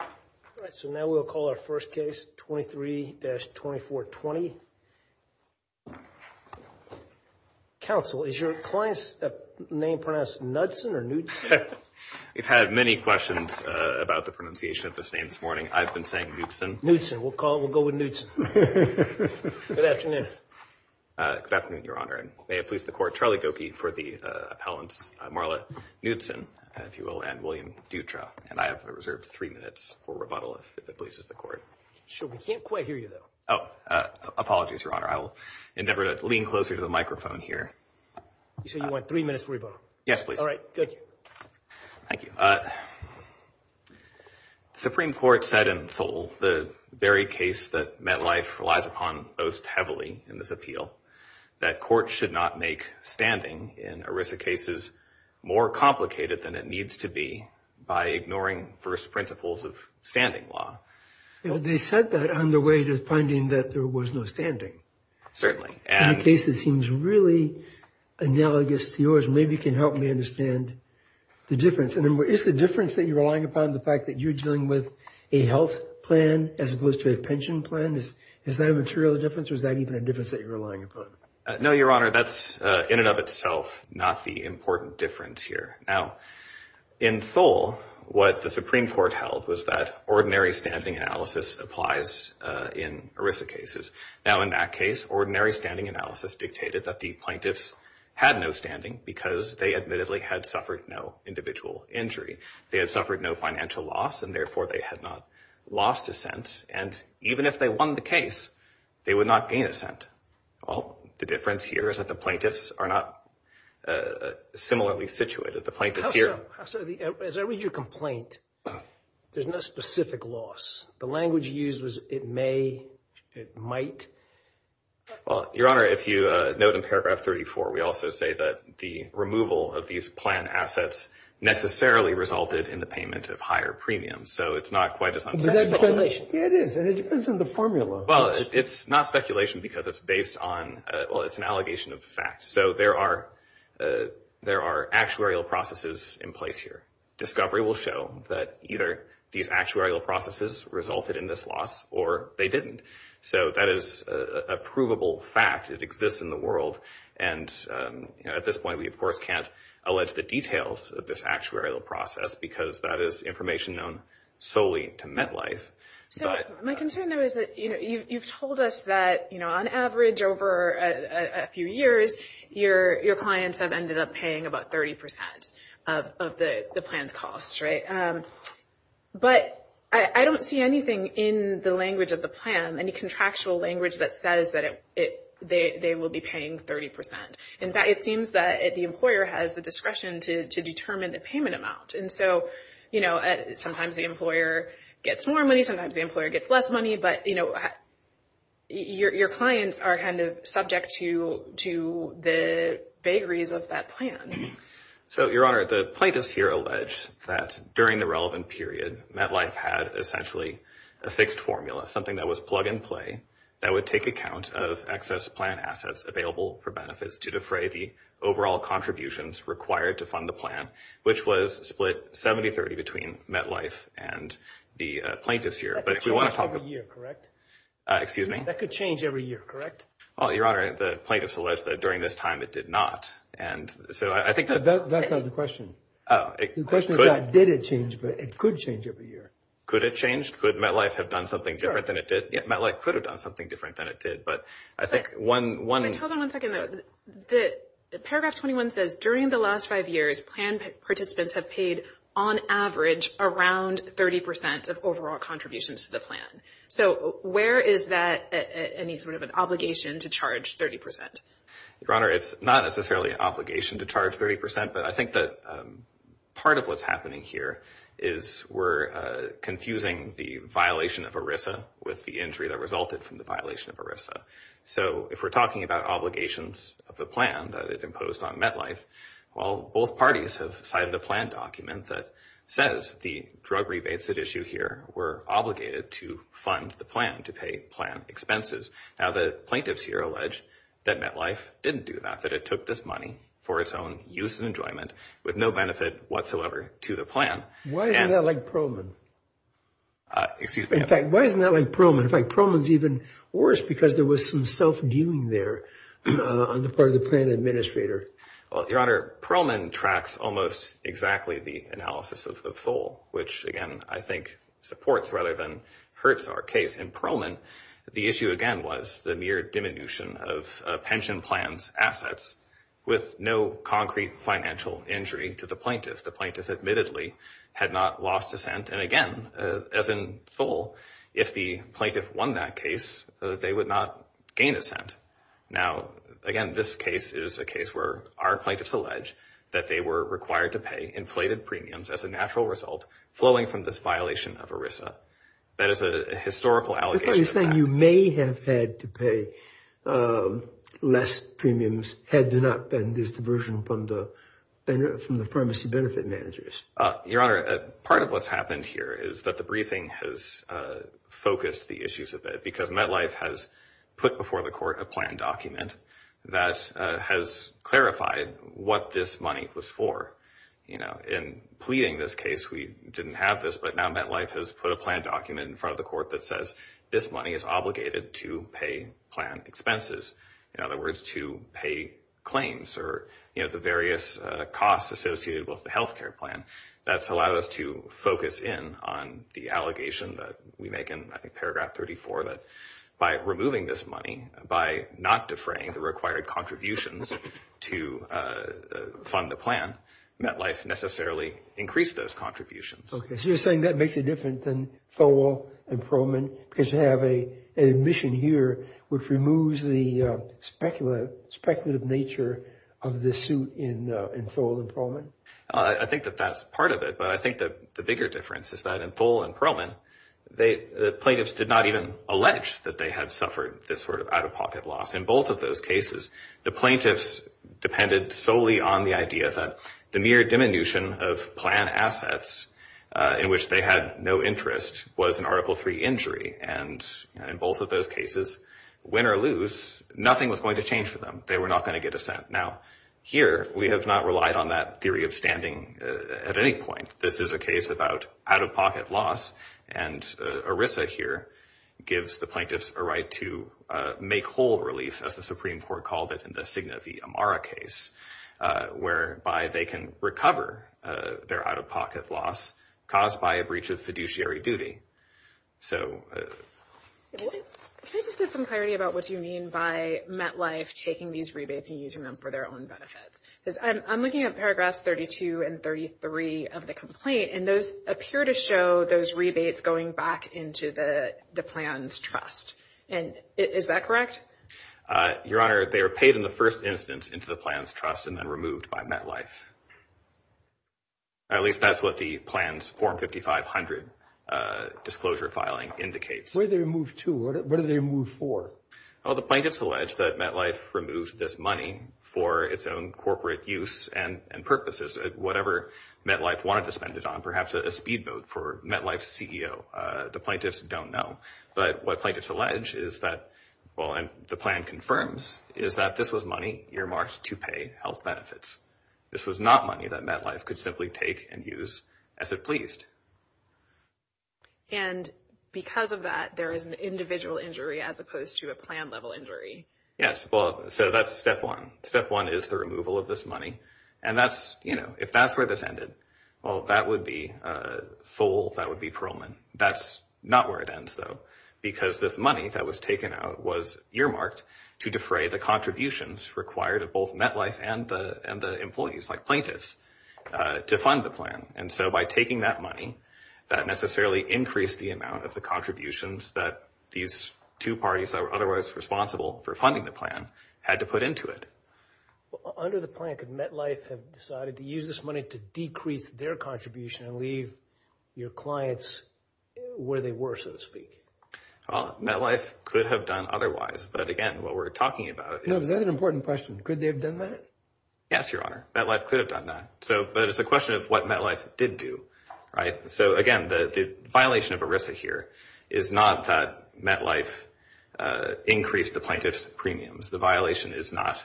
All right, so now we'll call our first case 23-2420. Counsel, is your client's name pronounced Knudsen or Knudsen? We've had many questions about the pronunciation of this name this morning. I've been saying Knudsen. Knudsen. We'll call it, we'll go with Knudsen. Good afternoon. Good afternoon, Your Honor, and may it please the court. Charlie Gokey for the appellant, Marla Knudsen, if you will, and William Dutra. And I have reserved three minutes for rebuttal if it pleases the court. Sure, we can't quite hear you though. Oh, apologies, Your Honor. I will endeavor to lean closer to the microphone here. You said you want three minutes for rebuttal? Yes, please. All right, good. Thank you. Supreme Court said in full the very case that Metlife relies upon most heavily in this appeal that court should not make standing in ERISA cases more complicated than it needs to be by ignoring first principles of standing law. They said that on the way to finding that there was no standing. Certainly. In a case that seems really analogous to yours, maybe you can help me understand the difference. And is the difference that you're relying upon the fact that you're dealing with a health plan as opposed to a pension plan? Is that a material difference or is that even a difference that you're relying upon? No, Your Honor, that's in and of itself not the important difference here. Now, in full, what the Supreme Court held was that ordinary standing analysis applies in ERISA cases. Now, in that case, ordinary standing analysis dictated that the plaintiffs had no standing because they admittedly had suffered no individual injury. They had suffered no financial loss and therefore they had not lost assent. And even if they won the case, they would not gain assent. The difference here is that the plaintiffs are not similarly situated. The plaintiffs here... As I read your complaint, there's no specific loss. The language used was, it may, it might. Well, Your Honor, if you note in paragraph 34, we also say that the removal of these plan assets necessarily resulted in the payment of higher premiums. So it's not quite as... Yeah, it is. And it depends on the formula. Well, it's not speculation because it's based on... Well, it's an allegation of fact. So there are actuarial processes in place here. Discovery will show that either these actuarial processes resulted in this loss or they didn't. So that is a provable fact. It exists in the world. And at this point, we, of course, can't allege the details of this actuarial process because that is information known solely to MetLife. So my concern, though, is that, you know, you've told us that, you know, on average over a few years, your clients have ended up paying about 30% of the plan's costs, right? But I don't see anything in the language of the plan, any contractual language that says that they will be paying 30%. In fact, it seems that the employer has the discretion to determine the payment amount. And so, you know, sometimes the employer gets more money, sometimes the employer gets less money. But, you know, your clients are kind of subject to the vagaries of that plan. So, Your Honor, the plaintiffs here allege that during the relevant period, MetLife had essentially a fixed formula, something that was plug and play, that would take account of excess plan assets available for benefits to defray the overall contributions required to fund the plan, which was split 70-30 between MetLife and the plaintiffs here. That could change every year, correct? Excuse me? That could change every year, correct? Well, Your Honor, the plaintiffs allege that during this time it did not. And so I think that... That's not the question. Oh, it could... The question is not did it change, but it could change every year. Could it change? Could MetLife have done something different than it did? Yeah, MetLife could have done something different than it did. But I think one... Hold on one second, though. Paragraph 21 says, during the last five years, plan participants have paid, on average, around 30% of overall contributions to the plan. So where is that any sort of an obligation to charge 30%? Your Honor, it's not necessarily an obligation to charge 30%. But I think that part of what's happening here is we're confusing the violation of ERISA with the injury that resulted from the violation of ERISA. So if we're talking about obligations of the plan that it imposed on MetLife, well, both parties have cited a plan document that says the drug rebates at issue here were obligated to fund the plan, to pay plan expenses. Now, the plaintiffs here allege that MetLife didn't do that, that it took this money for its own use and enjoyment with no benefit whatsoever to the plan. Why isn't that like Prohman? Excuse me? In fact, why isn't that like Prohman? Prohman's even worse because there was some self-dealing there on the part of the plan administrator. Well, Your Honor, Prohman tracks almost exactly the analysis of Thole, which, again, I think supports rather than hurts our case. In Prohman, the issue, again, was the mere diminution of a pension plan's assets with no concrete financial injury to the plaintiff. The plaintiff admittedly had not lost assent. And again, as in Thole, if the plaintiff won that case, they would not gain assent. Now, again, this case is a case where our plaintiffs allege that they were required to pay inflated premiums as a natural result flowing from this violation of ERISA. That is a historical allegation. So you're saying you may have had to pay less premiums had there not been this diversion from the pharmacy benefit managers. Your Honor, part of what's happened here is that the briefing has focused the issues a bit because MetLife has put before the court a plan document that has clarified what this money was for. You know, in pleading this case, we didn't have this, but now MetLife has put a plan document in front of the court that says this money is obligated to pay plan expenses. In other words, to pay claims or, you know, the various costs associated with the health care plan. That's allowed us to focus in on the allegation that we make in, I think, paragraph 34, that by removing this money, by not defraying the required contributions to fund the plan, MetLife necessarily increased those contributions. Okay. So you're saying that makes it different than Thole and Prohman because you have an admission here which removes the speculative nature of the suit in Thole and Prohman? I think that that's part of it. But I think that the bigger difference is that in Thole and Prohman, the plaintiffs did not even allege that they had suffered this sort of out-of-pocket loss. In both of those cases, the plaintiffs depended solely on the idea that the mere diminution of plan assets in which they had no interest was an Article III injury. And in both of those cases, win or lose, nothing was going to change for them. They were not going to get a cent. Now, here, we have not relied on that theory of standing at any point. This is a case about out-of-pocket loss. And ERISA here gives the plaintiffs a right to make whole relief, as the Supreme Court called it in the Signa v. Amara case, whereby they can recover their out-of-pocket loss caused by a breach of fiduciary duty. Can I just get some clarity about what you mean by MetLife taking these rebates and using them for their own benefits? Because I'm looking at paragraphs 32 and 33 of the complaint, and those appear to show those rebates going back into the Plans Trust. And is that correct? Your Honor, they were paid in the first instance into the Plans Trust and then removed by MetLife. At least that's what the plan's Form 5500 disclosure filing indicates. Where did they move to? What did they move for? Well, the plaintiffs allege that MetLife removed this money for its own corporate use and purposes, whatever MetLife wanted to spend it on, perhaps a speedboat for MetLife's CEO. The plaintiffs don't know. But what plaintiffs allege is that, well, and the plan confirms, is that this was money earmarked to pay health benefits. This was not money that MetLife could simply take and use as it pleased. And because of that, there is an individual injury as opposed to a plan-level injury. Yes, well, so that's step one. Step one is the removal of this money. And that's, you know, if that's where this ended, well, that would be full, that would be parolement. That's not where it ends, though, because this money that was taken out was earmarked to defray the contributions required of both MetLife and the employees, like plaintiffs, to fund the plan. And so by taking that money, that necessarily increased the amount of the contributions that these two parties that were otherwise responsible for funding the plan had to put into it. Under the plan, could MetLife have decided to use this money to decrease their contribution and leave your clients where they were, so to speak? Well, MetLife could have done otherwise. But again, what we're talking about is... No, is that an important question? Could they have done that? Yes, Your Honor. MetLife could have done that. But it's a question of what MetLife did do, right? So again, the violation of ERISA here is not that MetLife increased the plaintiff's premiums. The violation is not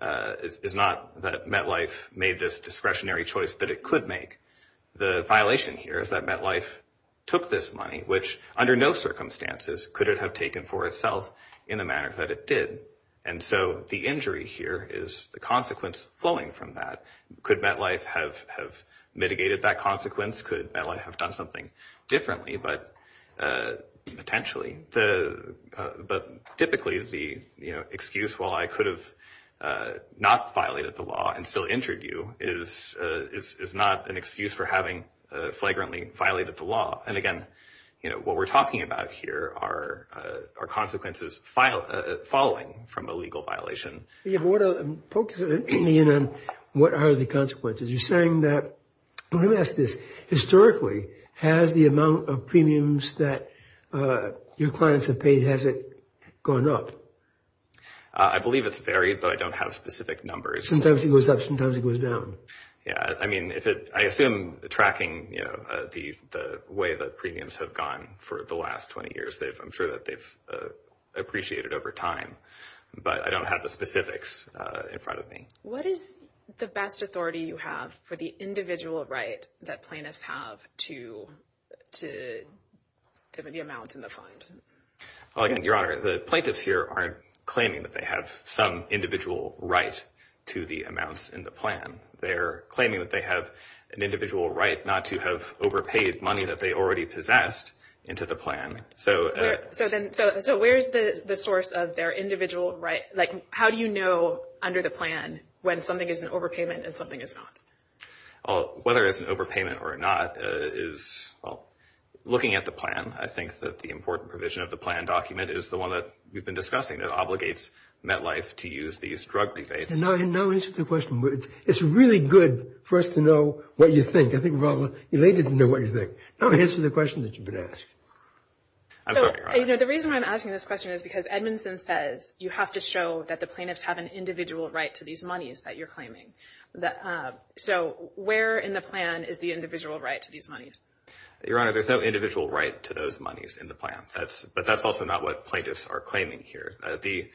that MetLife made this discretionary choice that it could make. The violation here is that MetLife took this money, which under no circumstances could it have taken for itself in the manner that it did. And so the injury here is the consequence flowing from that. Could MetLife have mitigated that consequence? Could MetLife have done something differently, potentially? But typically, the excuse, well, I could have not violated the law and still injured you, is not an excuse for having flagrantly violated the law. And again, what we're talking about here are consequences falling from a legal violation. Focus me in on what are the consequences. You're saying that... Let me ask this. Historically, has the amount of premiums that your clients have paid, has it gone up? I believe it's varied, but I don't have specific numbers. Sometimes it goes up, sometimes it goes down. I mean, I assume tracking the way that premiums have gone for the last 20 years, I'm sure that they've appreciated over time. But I don't have the specifics in front of me. What is the best authority you have for the individual right that plaintiffs have to the amounts in the fund? Well, again, Your Honor, the plaintiffs here aren't claiming that they have some individual right to the amounts in the plan. They're claiming that they have an individual right not to have overpaid money that they already possessed into the plan. So where's the source of their individual right? How do you know under the plan when something is an overpayment and something is not? Whether it's an overpayment or not is, well, looking at the plan. I think that the important provision of the plan document is the one that we've been discussing that obligates MetLife to use these drug defates. Now answer the question. It's really good for us to know what you think. I think we're all elated to know what you think. Now answer the question that you've been asked. I'm sorry, Your Honor. The reason why I'm asking this question is because Edmondson says you have to show that the plaintiffs have an individual right to these monies that you're claiming. So where in the plan is the individual right to these monies? Your Honor, there's no individual right to those monies in the plan. But that's also not what plaintiffs are claiming here. The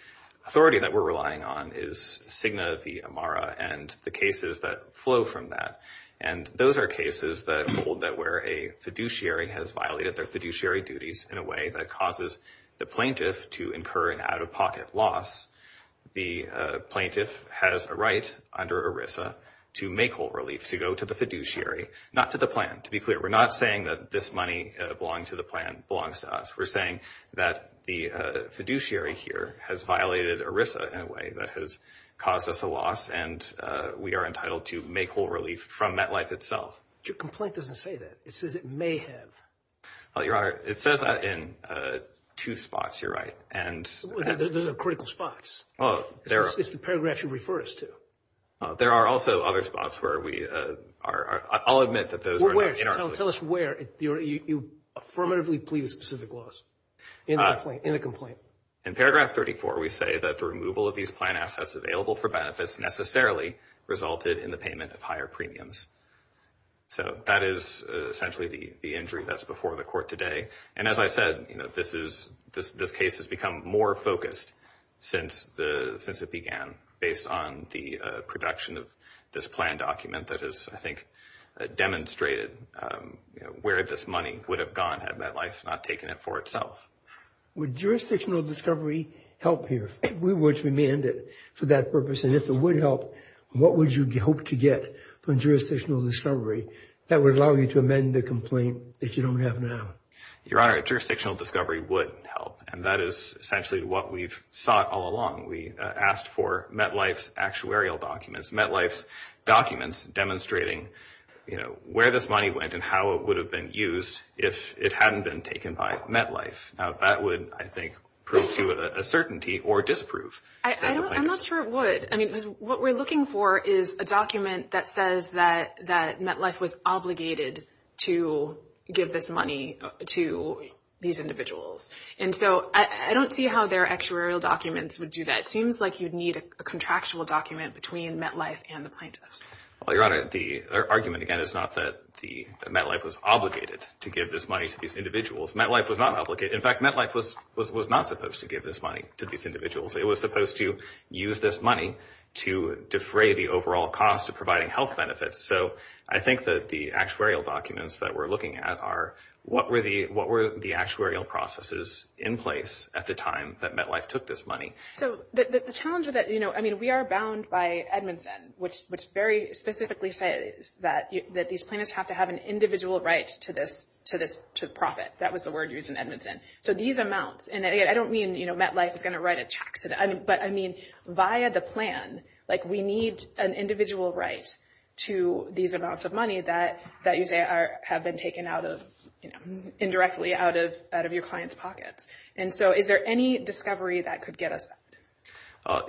authority that we're relying on is Cigna v. Amara and the cases that flow from that. And those are cases that hold that where a fiduciary has violated their fiduciary duties in a way that causes the plaintiff to incur an out-of-pocket loss, the plaintiff has a right under ERISA to make whole relief, to go to the fiduciary, not to the plan. To be clear, we're not saying that this money belonging to the plan belongs to us. We're saying that the fiduciary here has violated ERISA in a way that has caused us a loss, and we are entitled to make whole relief from MetLife itself. Your complaint doesn't say that. It says it may have. Well, Your Honor, it says that in two spots, Your Honor. Those are critical spots. Oh, they are. It's the paragraph you refer us to. There are also other spots where we are. I'll admit that those are not in our plea. Tell us where you affirmatively plead a specific loss in the complaint. In paragraph 34, we say that the removal of these plan assets available for benefits necessarily resulted in the payment of higher premiums. So that is essentially the injury that's before the Court today. And as I said, this case has become more focused since it began based on the production of this plan document that has, I think, demonstrated where this money would have gone had MetLife not taken it for itself. Would jurisdictional discovery help here? We would demand it for that purpose. And if it would help, what would you hope to get from jurisdictional discovery that would allow you to amend the complaint that you don't have now? Your Honor, jurisdictional discovery would help. And that is essentially what we've sought all along. We asked for MetLife's actuarial documents. MetLife's documents demonstrating, you know, where this money went and how it would have been used if it hadn't been taken by MetLife. Now, that would, I think, prove to you a certainty or disprove that the plaintiff's... I'm not sure it would. I mean, what we're looking for is a document that says that MetLife was obligated to give this money to these individuals. And so I don't see how their actuarial documents would do that. It seems like you'd need a contractual document between MetLife and the plaintiffs. Well, Your Honor, the argument, again, is not that MetLife was obligated to give this money to these individuals. MetLife was not obligated. In fact, MetLife was not supposed to give this money to these individuals. It was supposed to use this money to defray the overall cost of providing health benefits. So I think that the actuarial documents that we're looking at are, what were the actuarial processes in place at the time that MetLife took this money? So the challenge with that, I mean, we are bound by Edmondson, which very specifically says that these plaintiffs have to have an individual right to this profit. That was the word used in Edmondson. So these amounts, and again, I don't mean MetLife is going to write a check to them, but I mean, via the plan, we need an individual right to these amounts of money that you say have been taken out of, indirectly, out of your clients' pockets. And so is there any discovery that could get us that?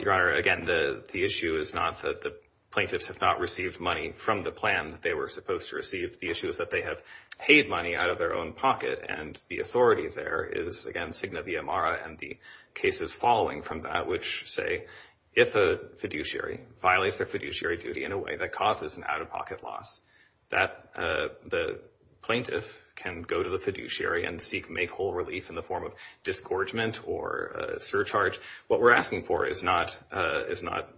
Your Honor, again, the issue is not that the plaintiffs have not received money from the plan that they were supposed to receive. The issue is that they have paid money out of their own pocket, and the authority there is, again, signa via mara and the cases following from that, which say, if a fiduciary violates their fiduciary duty in a way that causes an out-of-pocket loss, that the plaintiff can go to the fiduciary and seek, make whole relief in the form of disgorgement or surcharge. What we're asking for is not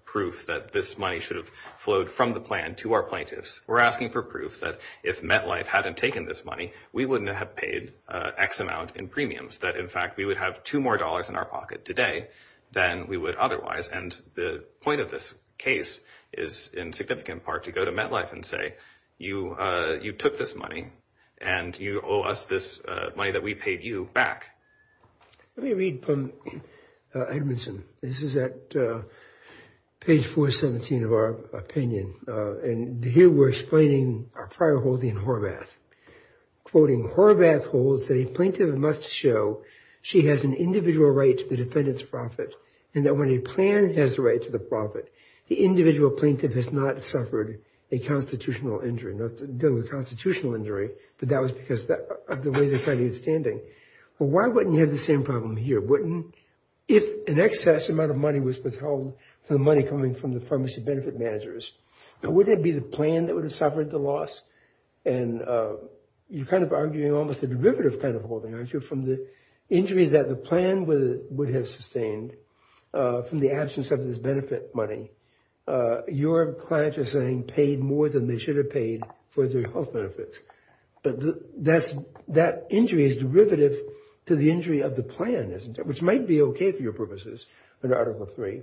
proof that this money should have flowed from the plan to our plaintiffs. We're asking for proof that if MetLife hadn't taken this money, we wouldn't have paid X amount in premiums. That, in fact, we would have two more dollars in our pocket today than we would otherwise. And the point of this case is, in significant part, to go to MetLife and say, you took this money, and you owe us this money that we paid you back. Let me read from Edmondson. This is at page 417 of our opinion. And here we're explaining our prior holding in Horvath, quoting, Horvath holds that a plaintiff must show she has an individual right to the defendant's profit, and that when a plan has the right to the profit, the individual plaintiff has not suffered a constitutional injury. Not dealing with a constitutional injury, but that was because of the way they're finding it standing. Well, why wouldn't you have the same problem here? Wouldn't, if an excess amount of money was withheld from the money coming from the pharmacy benefit managers, wouldn't it be the plan that would have suffered the loss? And you're kind of arguing almost a derivative kind of holding, aren't you, from the injury that the plan would have sustained from the absence of this benefit money. Your clients are saying paid more than they should have paid for their health benefits. But that injury is derivative to the injury of the plan, which might be okay for your purposes under Article 3.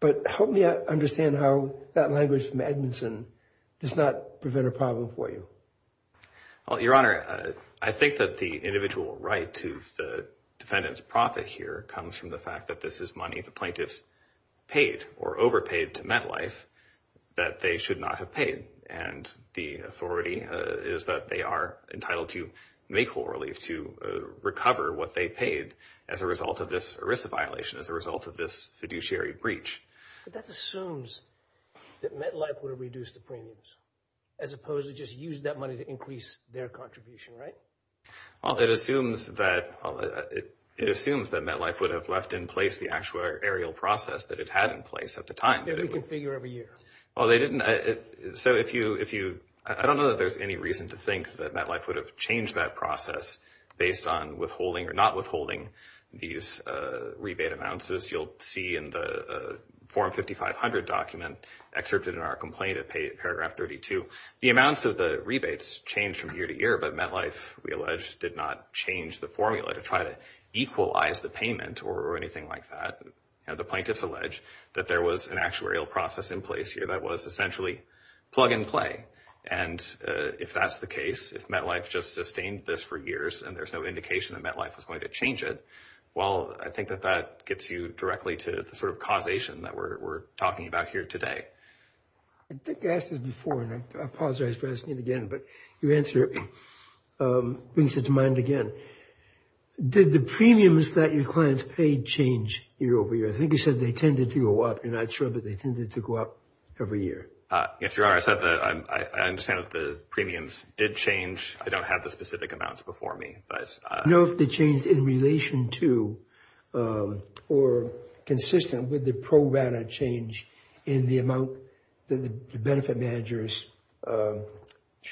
But help me understand how that language from Edmondson does not prevent a problem for you. Well, Your Honor, I think that the individual right to the defendant's profit here comes from the fact that this is money the plaintiffs paid or overpaid to MetLife that they should not have paid. And the authority is that they are entitled to make whole relief to recover what they paid as a result of this ERISA violation, as a result of this fiduciary breach. But that assumes that MetLife would have reduced the premiums as opposed to just use that money to increase their contribution, right? Well, it assumes that MetLife would have left in place the actual aerial process that it had in place at the time. Yeah, we can figure every year. Well, they didn't. So I don't know that there's any reason to think that MetLife would have changed that process based on withholding or not withholding these rebate amounts as you'll see in the Form 5500 document excerpted in our complaint at paragraph 32. The amounts of the rebates change from year to year, but MetLife, we allege, did not change the formula to try to equalize the payment or anything like that. The plaintiffs allege that there was an actuarial process in place here that was essentially plug and play. And if that's the case, if MetLife just sustained this for years and there's no indication that MetLife was going to change it, well, I think that that gets you directly to the sort of causation that we're talking about here today. I think I asked this before, and I apologize for asking it again, but your answer brings it to mind again. Did the premiums that your clients paid change year over year? I think you said they tended to go up, and I'm not sure that they tended to go up every year. Yes, Your Honor, I said that I understand that the premiums did change. I don't have the specific amounts before me, but— I don't know if the change in relation to or consistent with the pro rata change in the amount that the benefit managers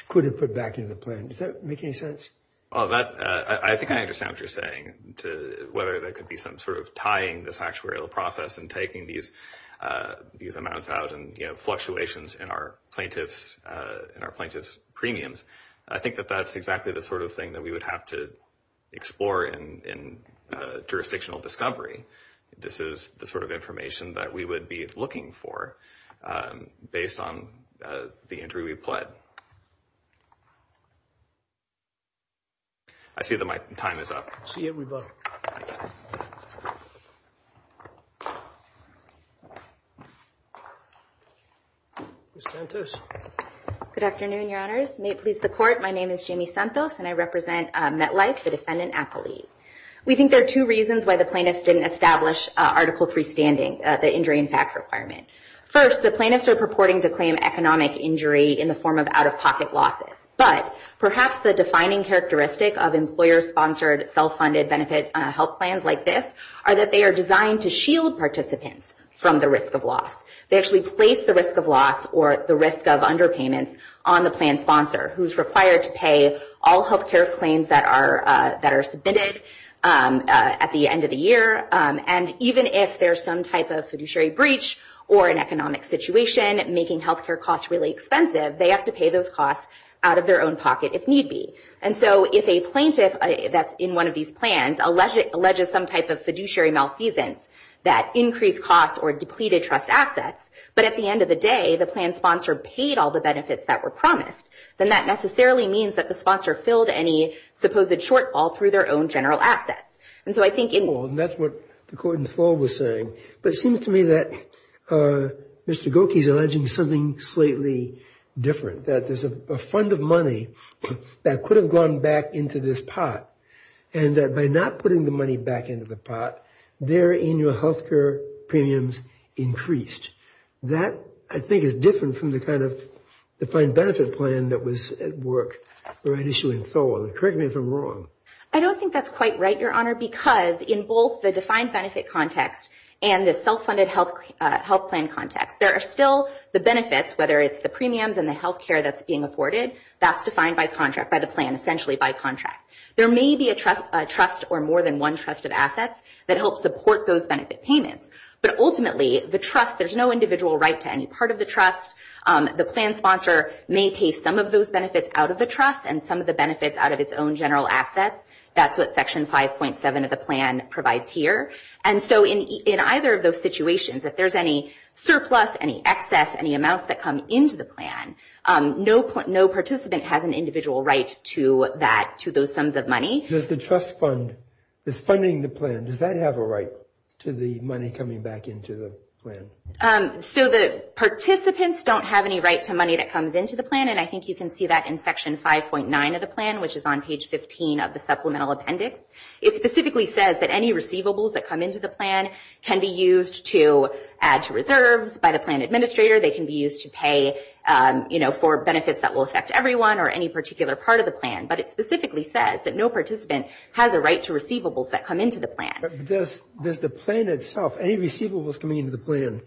could have put back into the plan. Does that make any sense? Well, I think I understand what you're saying, whether that could be some sort of tying the actuarial process and taking these amounts out and fluctuations in our plaintiffs' premiums. I think that that's exactly the sort of thing that we would have to explore in jurisdictional discovery. This is the sort of information that we would be looking for based on the injury we've pled. I see that my time is up. See you at rebuttal. Ms. Santos? Good afternoon, Your Honors. May it please the Court. My name is Jamie Santos, and I represent MetLife, the defendant appellee. We think there are two reasons why the plaintiffs didn't establish Article III standing, the injury in fact requirement. First, the plaintiffs are purporting to claim economic injury in the form of out-of-pocket losses. But perhaps the defining characteristic of employer-sponsored, self-funded benefit help plans like this are that they are designed to shield participants from the risk of loss. They actually place the risk of loss or the risk of underpayments on the plan sponsor, who's required to pay all health care claims that are submitted at the end of the year. And even if there's some type of fiduciary breach or an economic situation making health care costs really expensive, they have to pay those costs out of their own pocket if need be. And so if a plaintiff that's in one of these plans alleges some type of fiduciary malfeasance that increased costs or depleted trust assets, but at the end of the day, the plan sponsor paid all the benefits that were promised, then that necessarily means that the sponsor filled any supposed shortfall through their own general assets. And so I think in... Well, and that's what the court in full was saying. But it seems to me that Mr. Gokey's alleging something slightly different, that there's a fund of money that could have gone back into this pot, and that by not putting the health care premiums increased. That, I think, is different from the kind of defined benefit plan that was at work for an issue in full. Correct me if I'm wrong. I don't think that's quite right, Your Honor, because in both the defined benefit context and the self-funded health plan context, there are still the benefits, whether it's the premiums and the health care that's being afforded, that's defined by contract, by the plan, essentially by contract. There may be a trust or more than one trust of assets that help support those benefit payments. But ultimately, the trust, there's no individual right to any part of the trust. The plan sponsor may pay some of those benefits out of the trust and some of the benefits out of its own general assets. That's what Section 5.7 of the plan provides here. And so in either of those situations, if there's any surplus, any excess, any amounts that Does the trust fund, is funding the plan, does that have a right to the money coming back into the plan? So the participants don't have any right to money that comes into the plan. And I think you can see that in Section 5.9 of the plan, which is on page 15 of the supplemental appendix. It specifically says that any receivables that come into the plan can be used to add to reserves by the plan administrator. They can be used to pay for benefits that will affect everyone or any particular part of the plan. But it specifically says that no participant has a right to receivables that come into the plan. Does the plan itself, any receivables coming into the plan,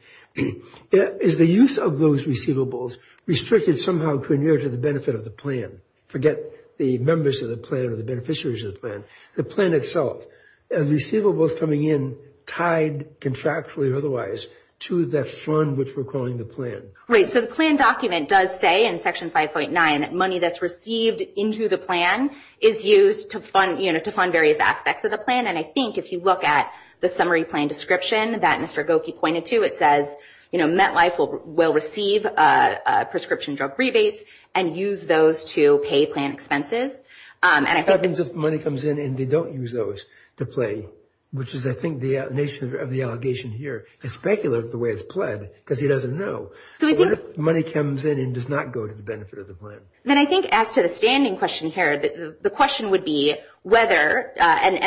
is the use of those receivables restricted somehow to adhere to the benefit of the plan? Forget the members of the plan or the beneficiaries of the plan. The plan itself and receivables coming in tied contractually or otherwise to that fund which we're calling the plan. Right. The plan document does say in Section 5.9 that money that's received into the plan is used to fund various aspects of the plan. And I think if you look at the summary plan description that Mr. Goki pointed to, it says MetLife will receive prescription drug rebates and use those to pay plan expenses. What happens if money comes in and they don't use those to pay? Which is, I think, the nature of the allegation here. It's speculative the way it's pled because he doesn't know. What if money comes in and does not go to the benefit of the plan? Then I think as to the standing question here, the question would be whether, and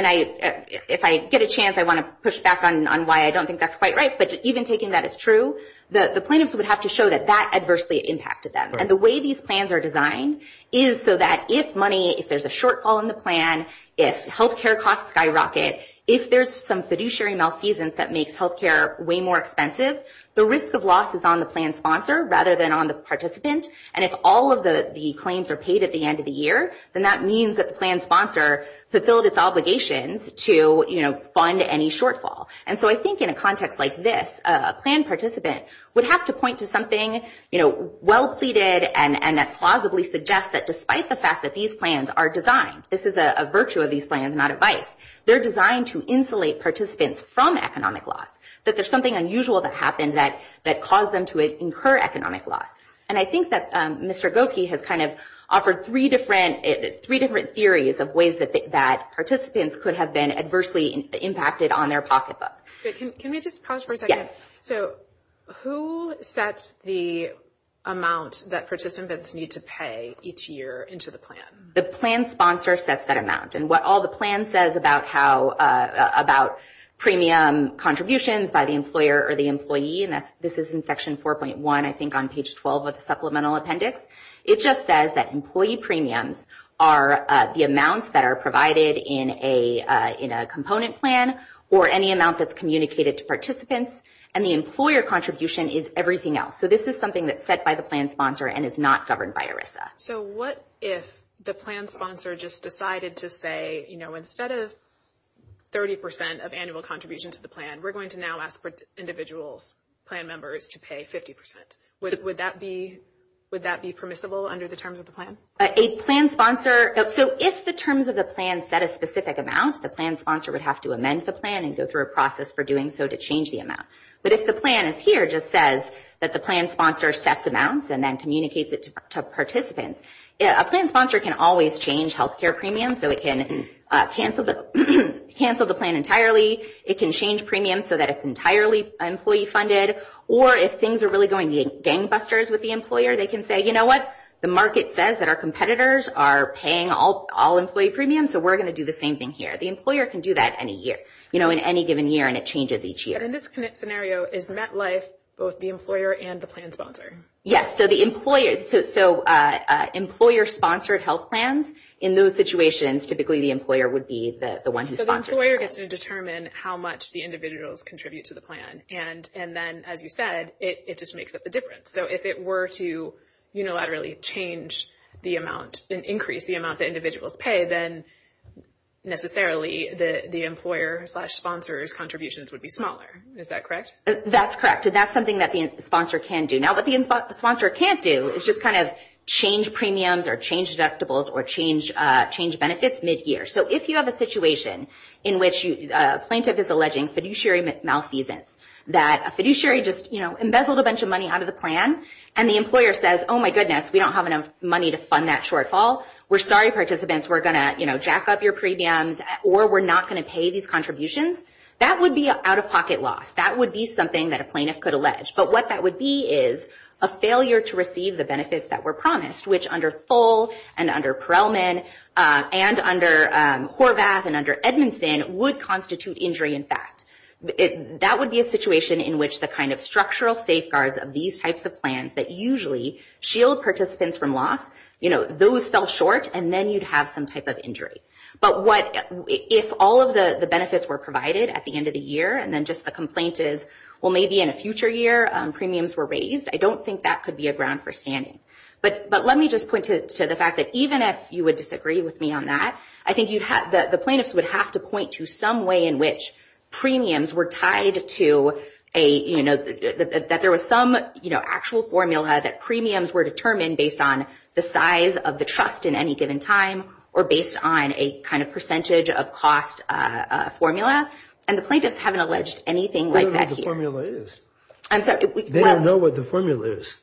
if I get a chance, I want to push back on why I don't think that's quite right. But even taking that as true, the plaintiffs would have to show that that adversely impacted them. And the way these plans are designed is so that if money, if there's a shortfall in the plan, if health care costs skyrocket, if there's some fiduciary malfeasance that makes health care way more expensive, the risk of loss is on the plan sponsor rather than on the participant. And if all of the claims are paid at the end of the year, then that means that the plan sponsor fulfilled its obligations to fund any shortfall. And so I think in a context like this, a plan participant would have to point to something well pleaded and that plausibly suggests that despite the fact that these plans are designed, this is a virtue of these plans, not advice, they're designed to insulate participants from economic loss, that there's something unusual that happened that caused them to incur economic loss. And I think that Mr. Gokee has kind of offered three different theories of ways that participants could have been adversely impacted on their pocketbook. Can we just pause for a second? Yes. So who sets the amount that participants need to pay each year into the plan? The plan sponsor sets that amount. And what all the plan says about premium contributions by the employer or the employee, and this is in section 4.1, I think, on page 12 of the supplemental appendix. It just says that employee premiums are the amounts that are provided in a component plan or any amount that's communicated to participants. And the employer contribution is everything else. So this is something that's set by the plan sponsor and is not governed by ERISA. So what if the plan sponsor just decided to say, you know, instead of 30 percent of annual contribution to the plan, we're going to now ask for individuals, plan members, to pay 50 percent? Would that be permissible under the terms of the plan? A plan sponsor, so if the terms of the plan set a specific amount, the plan sponsor would have to amend the plan and go through a process for doing so to change the amount. But if the plan is here, it just says that the plan sponsor sets amounts and then communicates it to participants, a plan sponsor can always change health care premiums. So it can cancel the plan entirely. It can change premiums so that it's entirely employee funded. Or if things are really going to be gangbusters with the employer, they can say, you know what? The market says that our competitors are paying all employee premiums, so we're going to do the same thing here. The employer can do that any year, you know, in any given year, and it changes each year. And in this scenario, is MetLife both the employer and the plan sponsor? Yes, so the employer, so employer-sponsored health plans, in those situations, typically the employer would be the one who sponsors the plan. So the employer gets to determine how much the individuals contribute to the plan. And then, as you said, it just makes up the difference. So if it were to unilaterally change the amount, increase the amount that individuals pay, then necessarily the employer-sponsor's contributions would be smaller. Is that correct? That's correct. And that's something that the sponsor can do. Now what the sponsor can't do is just kind of change premiums, or change deductibles, or change benefits mid-year. So if you have a situation in which a plaintiff is alleging fiduciary malfeasance, that a fiduciary just, you know, embezzled a bunch of money out of the plan, and the employer says, oh my goodness, we don't have enough money to fund that shortfall, we're sorry participants, we're going to jack up your premiums, or we're not going to pay these contributions, that would be out-of-pocket loss. That would be something that a plaintiff could allege. But what that would be is a failure to receive the benefits that were promised, which under Tholl, and under Perelman, and under Horvath, and under Edmondson, would constitute injury in fact. That would be a situation in which the kind of structural safeguards of these types of plans that usually shield participants from loss, you know, those fell short, and then you'd have some type of injury. But if all of the benefits were provided at the end of the year, and then just the complaint is, well, maybe in a future year premiums were raised, I don't think that could be a ground for standing. But let me just point to the fact that even if you would disagree with me on that, I think the plaintiffs would have to point to some way in which premiums were tied to a, you know, that there was some, you know, actual formula that premiums were determined based on the size of the trust in any given time, or based on a kind of percentage of cost formula. And the plaintiffs haven't alleged anything like that here. They don't know what the formula is. I'm sorry. They don't know what the formula is.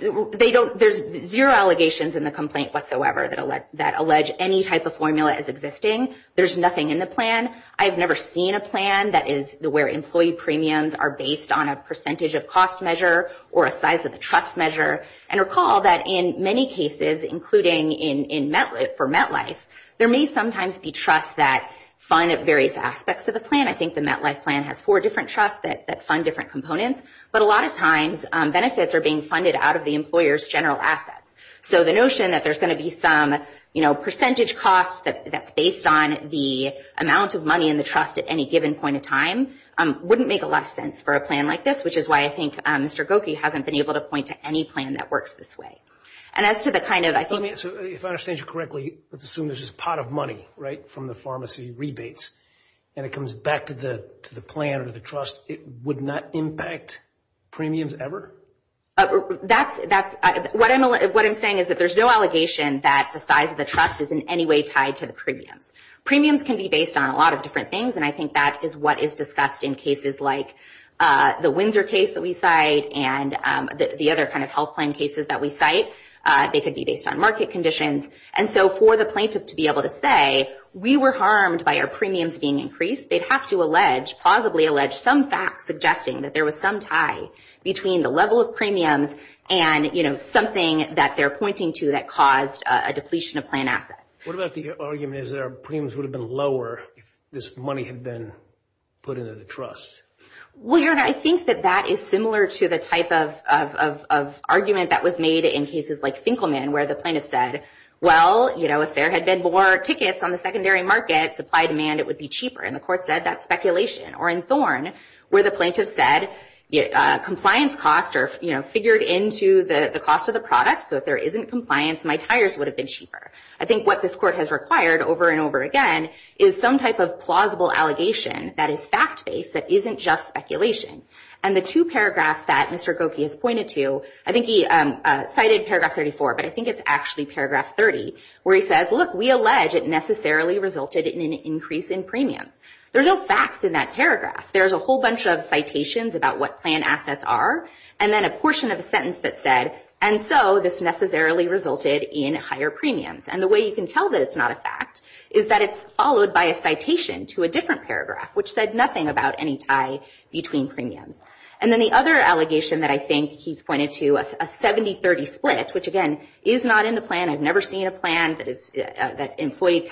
There's zero allegations in the complaint whatsoever that allege any type of formula as existing. There's nothing in the plan. I've never seen a plan that is where employee premiums are based on a percentage of cost measure, or a size of the trust measure. And recall that in many cases, including for MetLife, there may sometimes be trust that fund at various aspects of the plan. I think the MetLife plan has four different trusts that fund different components. But a lot of times, benefits are being funded out of the employer's general assets. So the notion that there's going to be some, you know, percentage cost that's based on the amount of money in the trust at any given point of time wouldn't make a lot of sense for a plan like this, which is why I think Mr. Gokie hasn't been able to point to any plan that works this way. And as to the kind of, I think... Let me answer. If I understand you correctly, let's assume there's this pot of money, right, from the rebates, and it comes back to the plan or the trust, it would not impact premiums ever? That's... What I'm saying is that there's no allegation that the size of the trust is in any way tied to the premiums. Premiums can be based on a lot of different things, and I think that is what is discussed in cases like the Windsor case that we cite and the other kind of health plan cases that we cite. They could be based on market conditions. And so for the plaintiff to be able to say, we were harmed by our premiums being increased, they'd have to allege, plausibly allege, some facts suggesting that there was some tie between the level of premiums and, you know, something that they're pointing to that caused a depletion of plan assets. What about the argument is that our premiums would have been lower if this money had been put into the trust? Well, your Honor, I think that that is similar to the type of argument that was made in cases like Finkelman, where the plaintiff said, well, you know, if there had been more tickets on the secondary market, supply demand, it would be cheaper. And the court said that's speculation. Or in Thorn, where the plaintiff said, compliance costs are, you know, figured into the cost of the product, so if there isn't compliance, my tires would have been cheaper. I think what this court has required over and over again is some type of plausible allegation that is fact-based that isn't just speculation. And the two paragraphs that Mr. Gokey has pointed to, I think he cited paragraph 34, but I think it's actually paragraph 30, where he says, look, we allege it necessarily resulted in an increase in premiums. There's no facts in that paragraph. There's a whole bunch of citations about what plan assets are and then a portion of a sentence that said, and so this necessarily resulted in higher premiums. And the way you can tell that it's not a fact is that it's followed by a citation to a different And then the other allegation that I think he's pointed to, a 70-30 split, which again, is not in the plan. I've never seen a plan that employee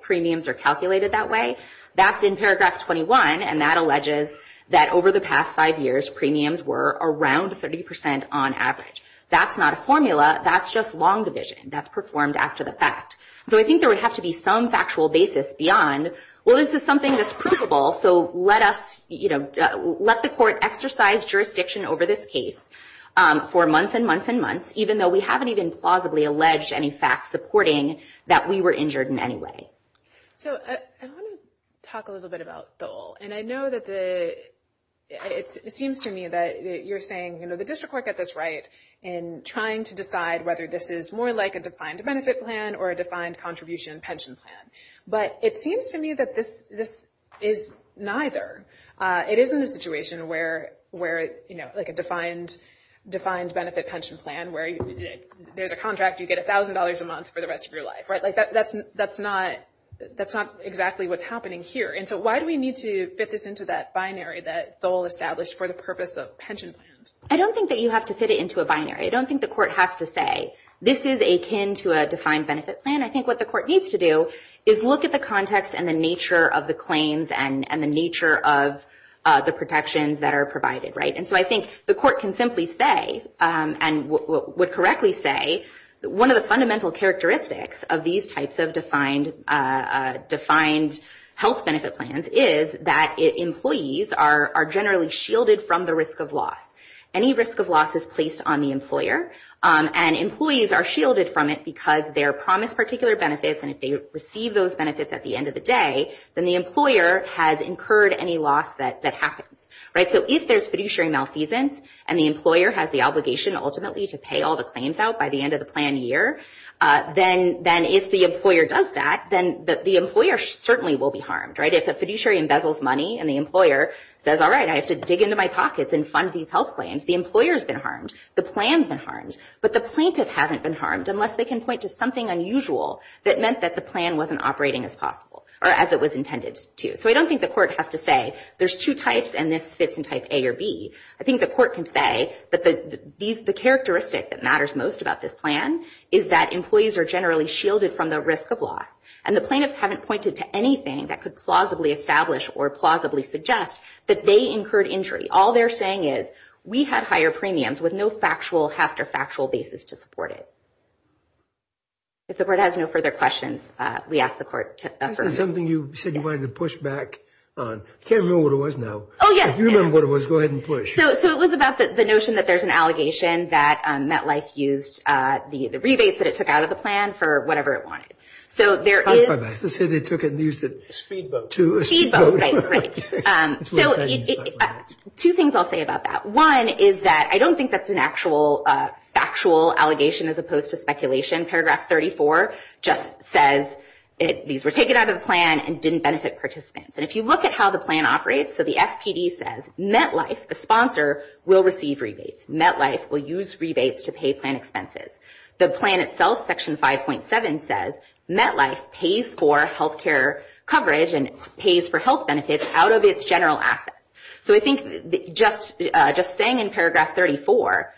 premiums are calculated that way. That's in paragraph 21, and that alleges that over the past five years, premiums were around 30% on average. That's not a formula. That's just long division. That's performed after the fact. So I think there would have to be some factual basis beyond, well, this is something that's let us, let the court exercise jurisdiction over this case for months and months and months, even though we haven't even plausibly alleged any facts supporting that we were injured in any way. So I want to talk a little bit about Dole. And I know that it seems to me that you're saying the district court got this right in trying to decide whether this is more like a defined benefit plan or a defined contribution pension plan. But it seems to me that this is neither. It is in a situation where, like a defined benefit pension plan, where there's a contract, you get $1,000 a month for the rest of your life. That's not exactly what's happening here. And so why do we need to fit this into that binary that Dole established for the purpose of pension plans? I don't think that you have to fit it into a binary. I don't think the court has to say, this is akin to a defined benefit plan. I think what the court needs to do is look at the context and the nature of the claims and the nature of the protections that are provided. And so I think the court can simply say, and would correctly say, one of the fundamental characteristics of these types of defined health benefit plans is that employees are generally shielded from the risk of loss. Any risk of loss is placed on the employer. And employees are shielded from it because they're promised particular benefits. And if they receive those benefits at the end of the day, then the employer has incurred any loss that happens. So if there's fiduciary malfeasance and the employer has the obligation ultimately to pay all the claims out by the end of the plan year, then if the employer does that, then the employer certainly will be harmed. If a fiduciary embezzles money and the employer says, all right, I have to dig into my pockets and fund these health claims, the employer's been harmed. The plan's been harmed. But the plaintiff hasn't been harmed unless they can point to something unusual that meant that the plan wasn't operating as possible or as it was intended to. So I don't think the court has to say there's two types and this fits in type A or B. I think the court can say that the characteristic that matters most about this plan is that employees are generally shielded from the risk of loss. And the plaintiffs haven't pointed to anything that could plausibly establish or plausibly suggest that they incurred injury. All they're saying is, we had higher premiums with no factual after factual basis to support it. If the court has no further questions, we ask the court to affirm. This is something you said you wanted to push back on. I can't remember what it was now. Oh, yes. If you remember what it was, go ahead and push. So it was about the notion that there's an allegation that MetLife used the rebates that it took out of the plan for whatever it wanted. So there is- I was about to say they took it and used it- Speedboat. To a speedboat. Speedboat, right, right. So two things I'll say about that. One is that I don't think that's an actual factual allegation as opposed to speculation. Paragraph 34 just says these were taken out of the plan and didn't benefit participants. And if you look at how the plan operates, so the SPD says MetLife, the sponsor, will receive rebates. MetLife will use rebates to pay plan expenses. The plan itself, section 5.7, says MetLife pays for health care coverage and pays for health benefits out of its general asset. So I think just saying in paragraph 34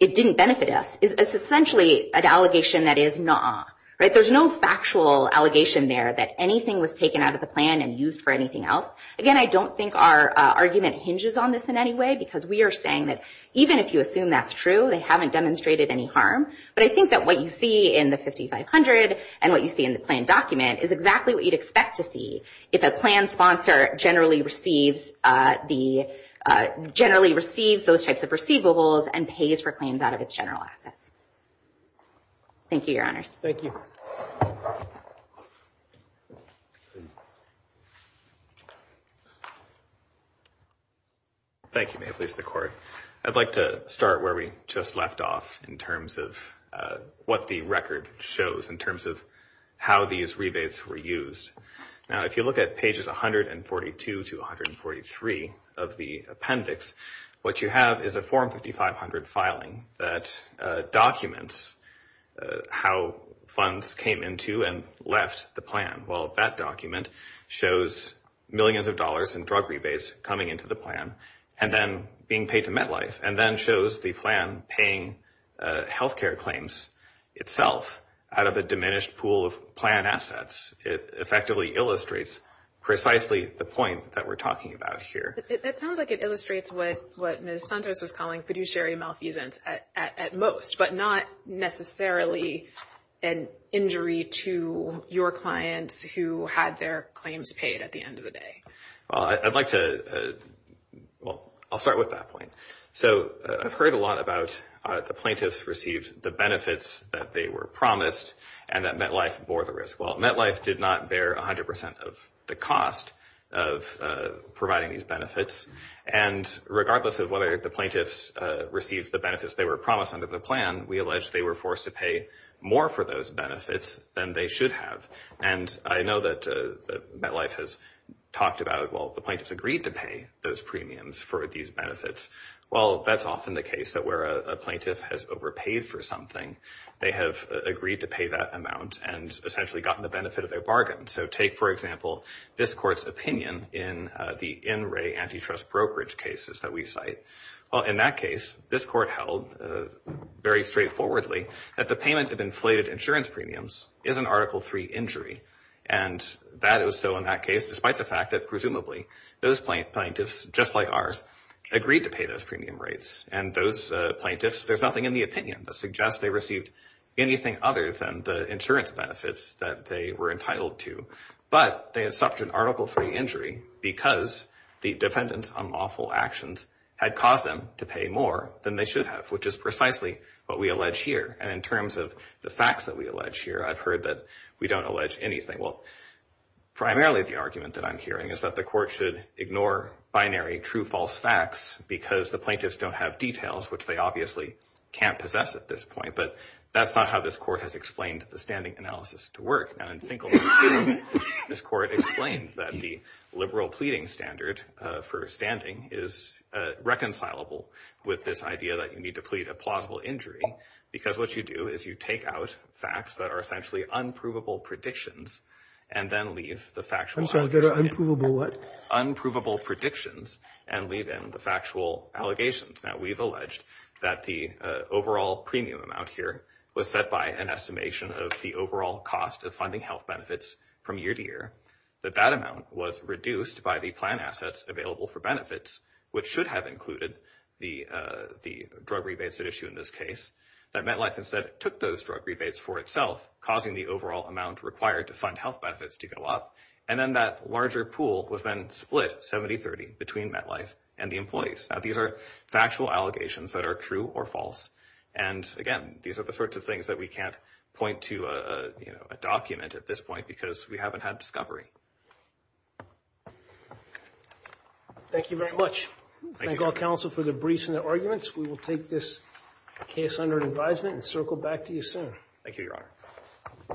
it didn't benefit us is essentially an allegation that is nuh-uh, right? There's no factual allegation there that anything was taken out of the plan and used for anything else. Again, I don't think our argument hinges on this in any way because we are saying that even if you assume that's true, they haven't demonstrated any harm. But I think that what you see in the 5500 and what you see in the plan document is exactly what you'd expect to see if a plan sponsor generally receives those types of receivables and pays for claims out of its general assets. Thank you, Your Honors. Thank you. Thank you, May it please the Court. I'd like to start where we just left off in terms of what the record shows in terms of how these rebates were used. Now, if you look at pages 142 to 143 of the appendix, what you have is a Form 5500 filing that documents how funds came into and left the plan. Well, that document shows millions of dollars in drug rebates coming into the plan and then being paid to MetLife and then shows the plan paying health care claims itself out of a plan assets. It effectively illustrates precisely the point that we're talking about here. It sounds like it illustrates what Ms. Santos was calling fiduciary malfeasance at most, but not necessarily an injury to your client who had their claims paid at the end of the day. Well, I'd like to well, I'll start with that point. So I've heard a lot about the plaintiffs received the benefits that they were promised and that MetLife bore the risk. Well, MetLife did not bear 100% of the cost of providing these benefits. And regardless of whether the plaintiffs received the benefits they were promised under the plan, we allege they were forced to pay more for those benefits than they should have. And I know that MetLife has talked about, well, the plaintiffs agreed to pay those premiums for these benefits. Well, that's often the case that where a plaintiff has overpaid for something, they have agreed to pay that amount and essentially gotten the benefit of their bargain. So take, for example, this court's opinion in the in-ray antitrust brokerage cases that we cite. Well, in that case, this court held very straightforwardly that the payment of inflated insurance premiums is an Article III injury. And that was so in that case, despite the fact that presumably those plaintiffs, just like ours, agreed to pay those premium rates. And those plaintiffs, there's nothing in the opinion that suggests they received anything other than the insurance benefits that they were entitled to. But they had suffered an Article III injury because the defendant's unlawful actions had caused them to pay more than they should have, which is precisely what we allege here. And in terms of the facts that we allege here, I've heard that we don't allege anything. Well, primarily the argument that I'm hearing is that the court should ignore binary true false facts because the plaintiffs don't have details, which they obviously can't possess at this point. But that's not how this court has explained the standing analysis to work. Now, in Finkelman 2, this court explained that the liberal pleading standard for standing is reconcilable with this idea that you need to plead a plausible injury because what you do is you take out facts that are essentially unprovable predictions and then leave the factual allegations. I'm sorry, they're unprovable what? Unprovable predictions and leave in the factual allegations. Now, we've alleged that the overall premium amount here was set by an estimation of the overall cost of funding health benefits from year to year, that that amount was reduced by the plan assets available for benefits, which should have included the drug rebates that issue in this case. That MetLife instead took those drug rebates for itself, causing the overall amount required to fund health benefits to go up. And then that larger pool was then split 70-30 between MetLife and the employees. Now, these are factual allegations that are true or false. And again, these are the sorts of things that we can't point to a document at this point because we haven't had discovery. Thank you very much. Thank all counsel for the briefs and the arguments. We will take this case under advisement and circle back to you soon. Thank you, Your Honor.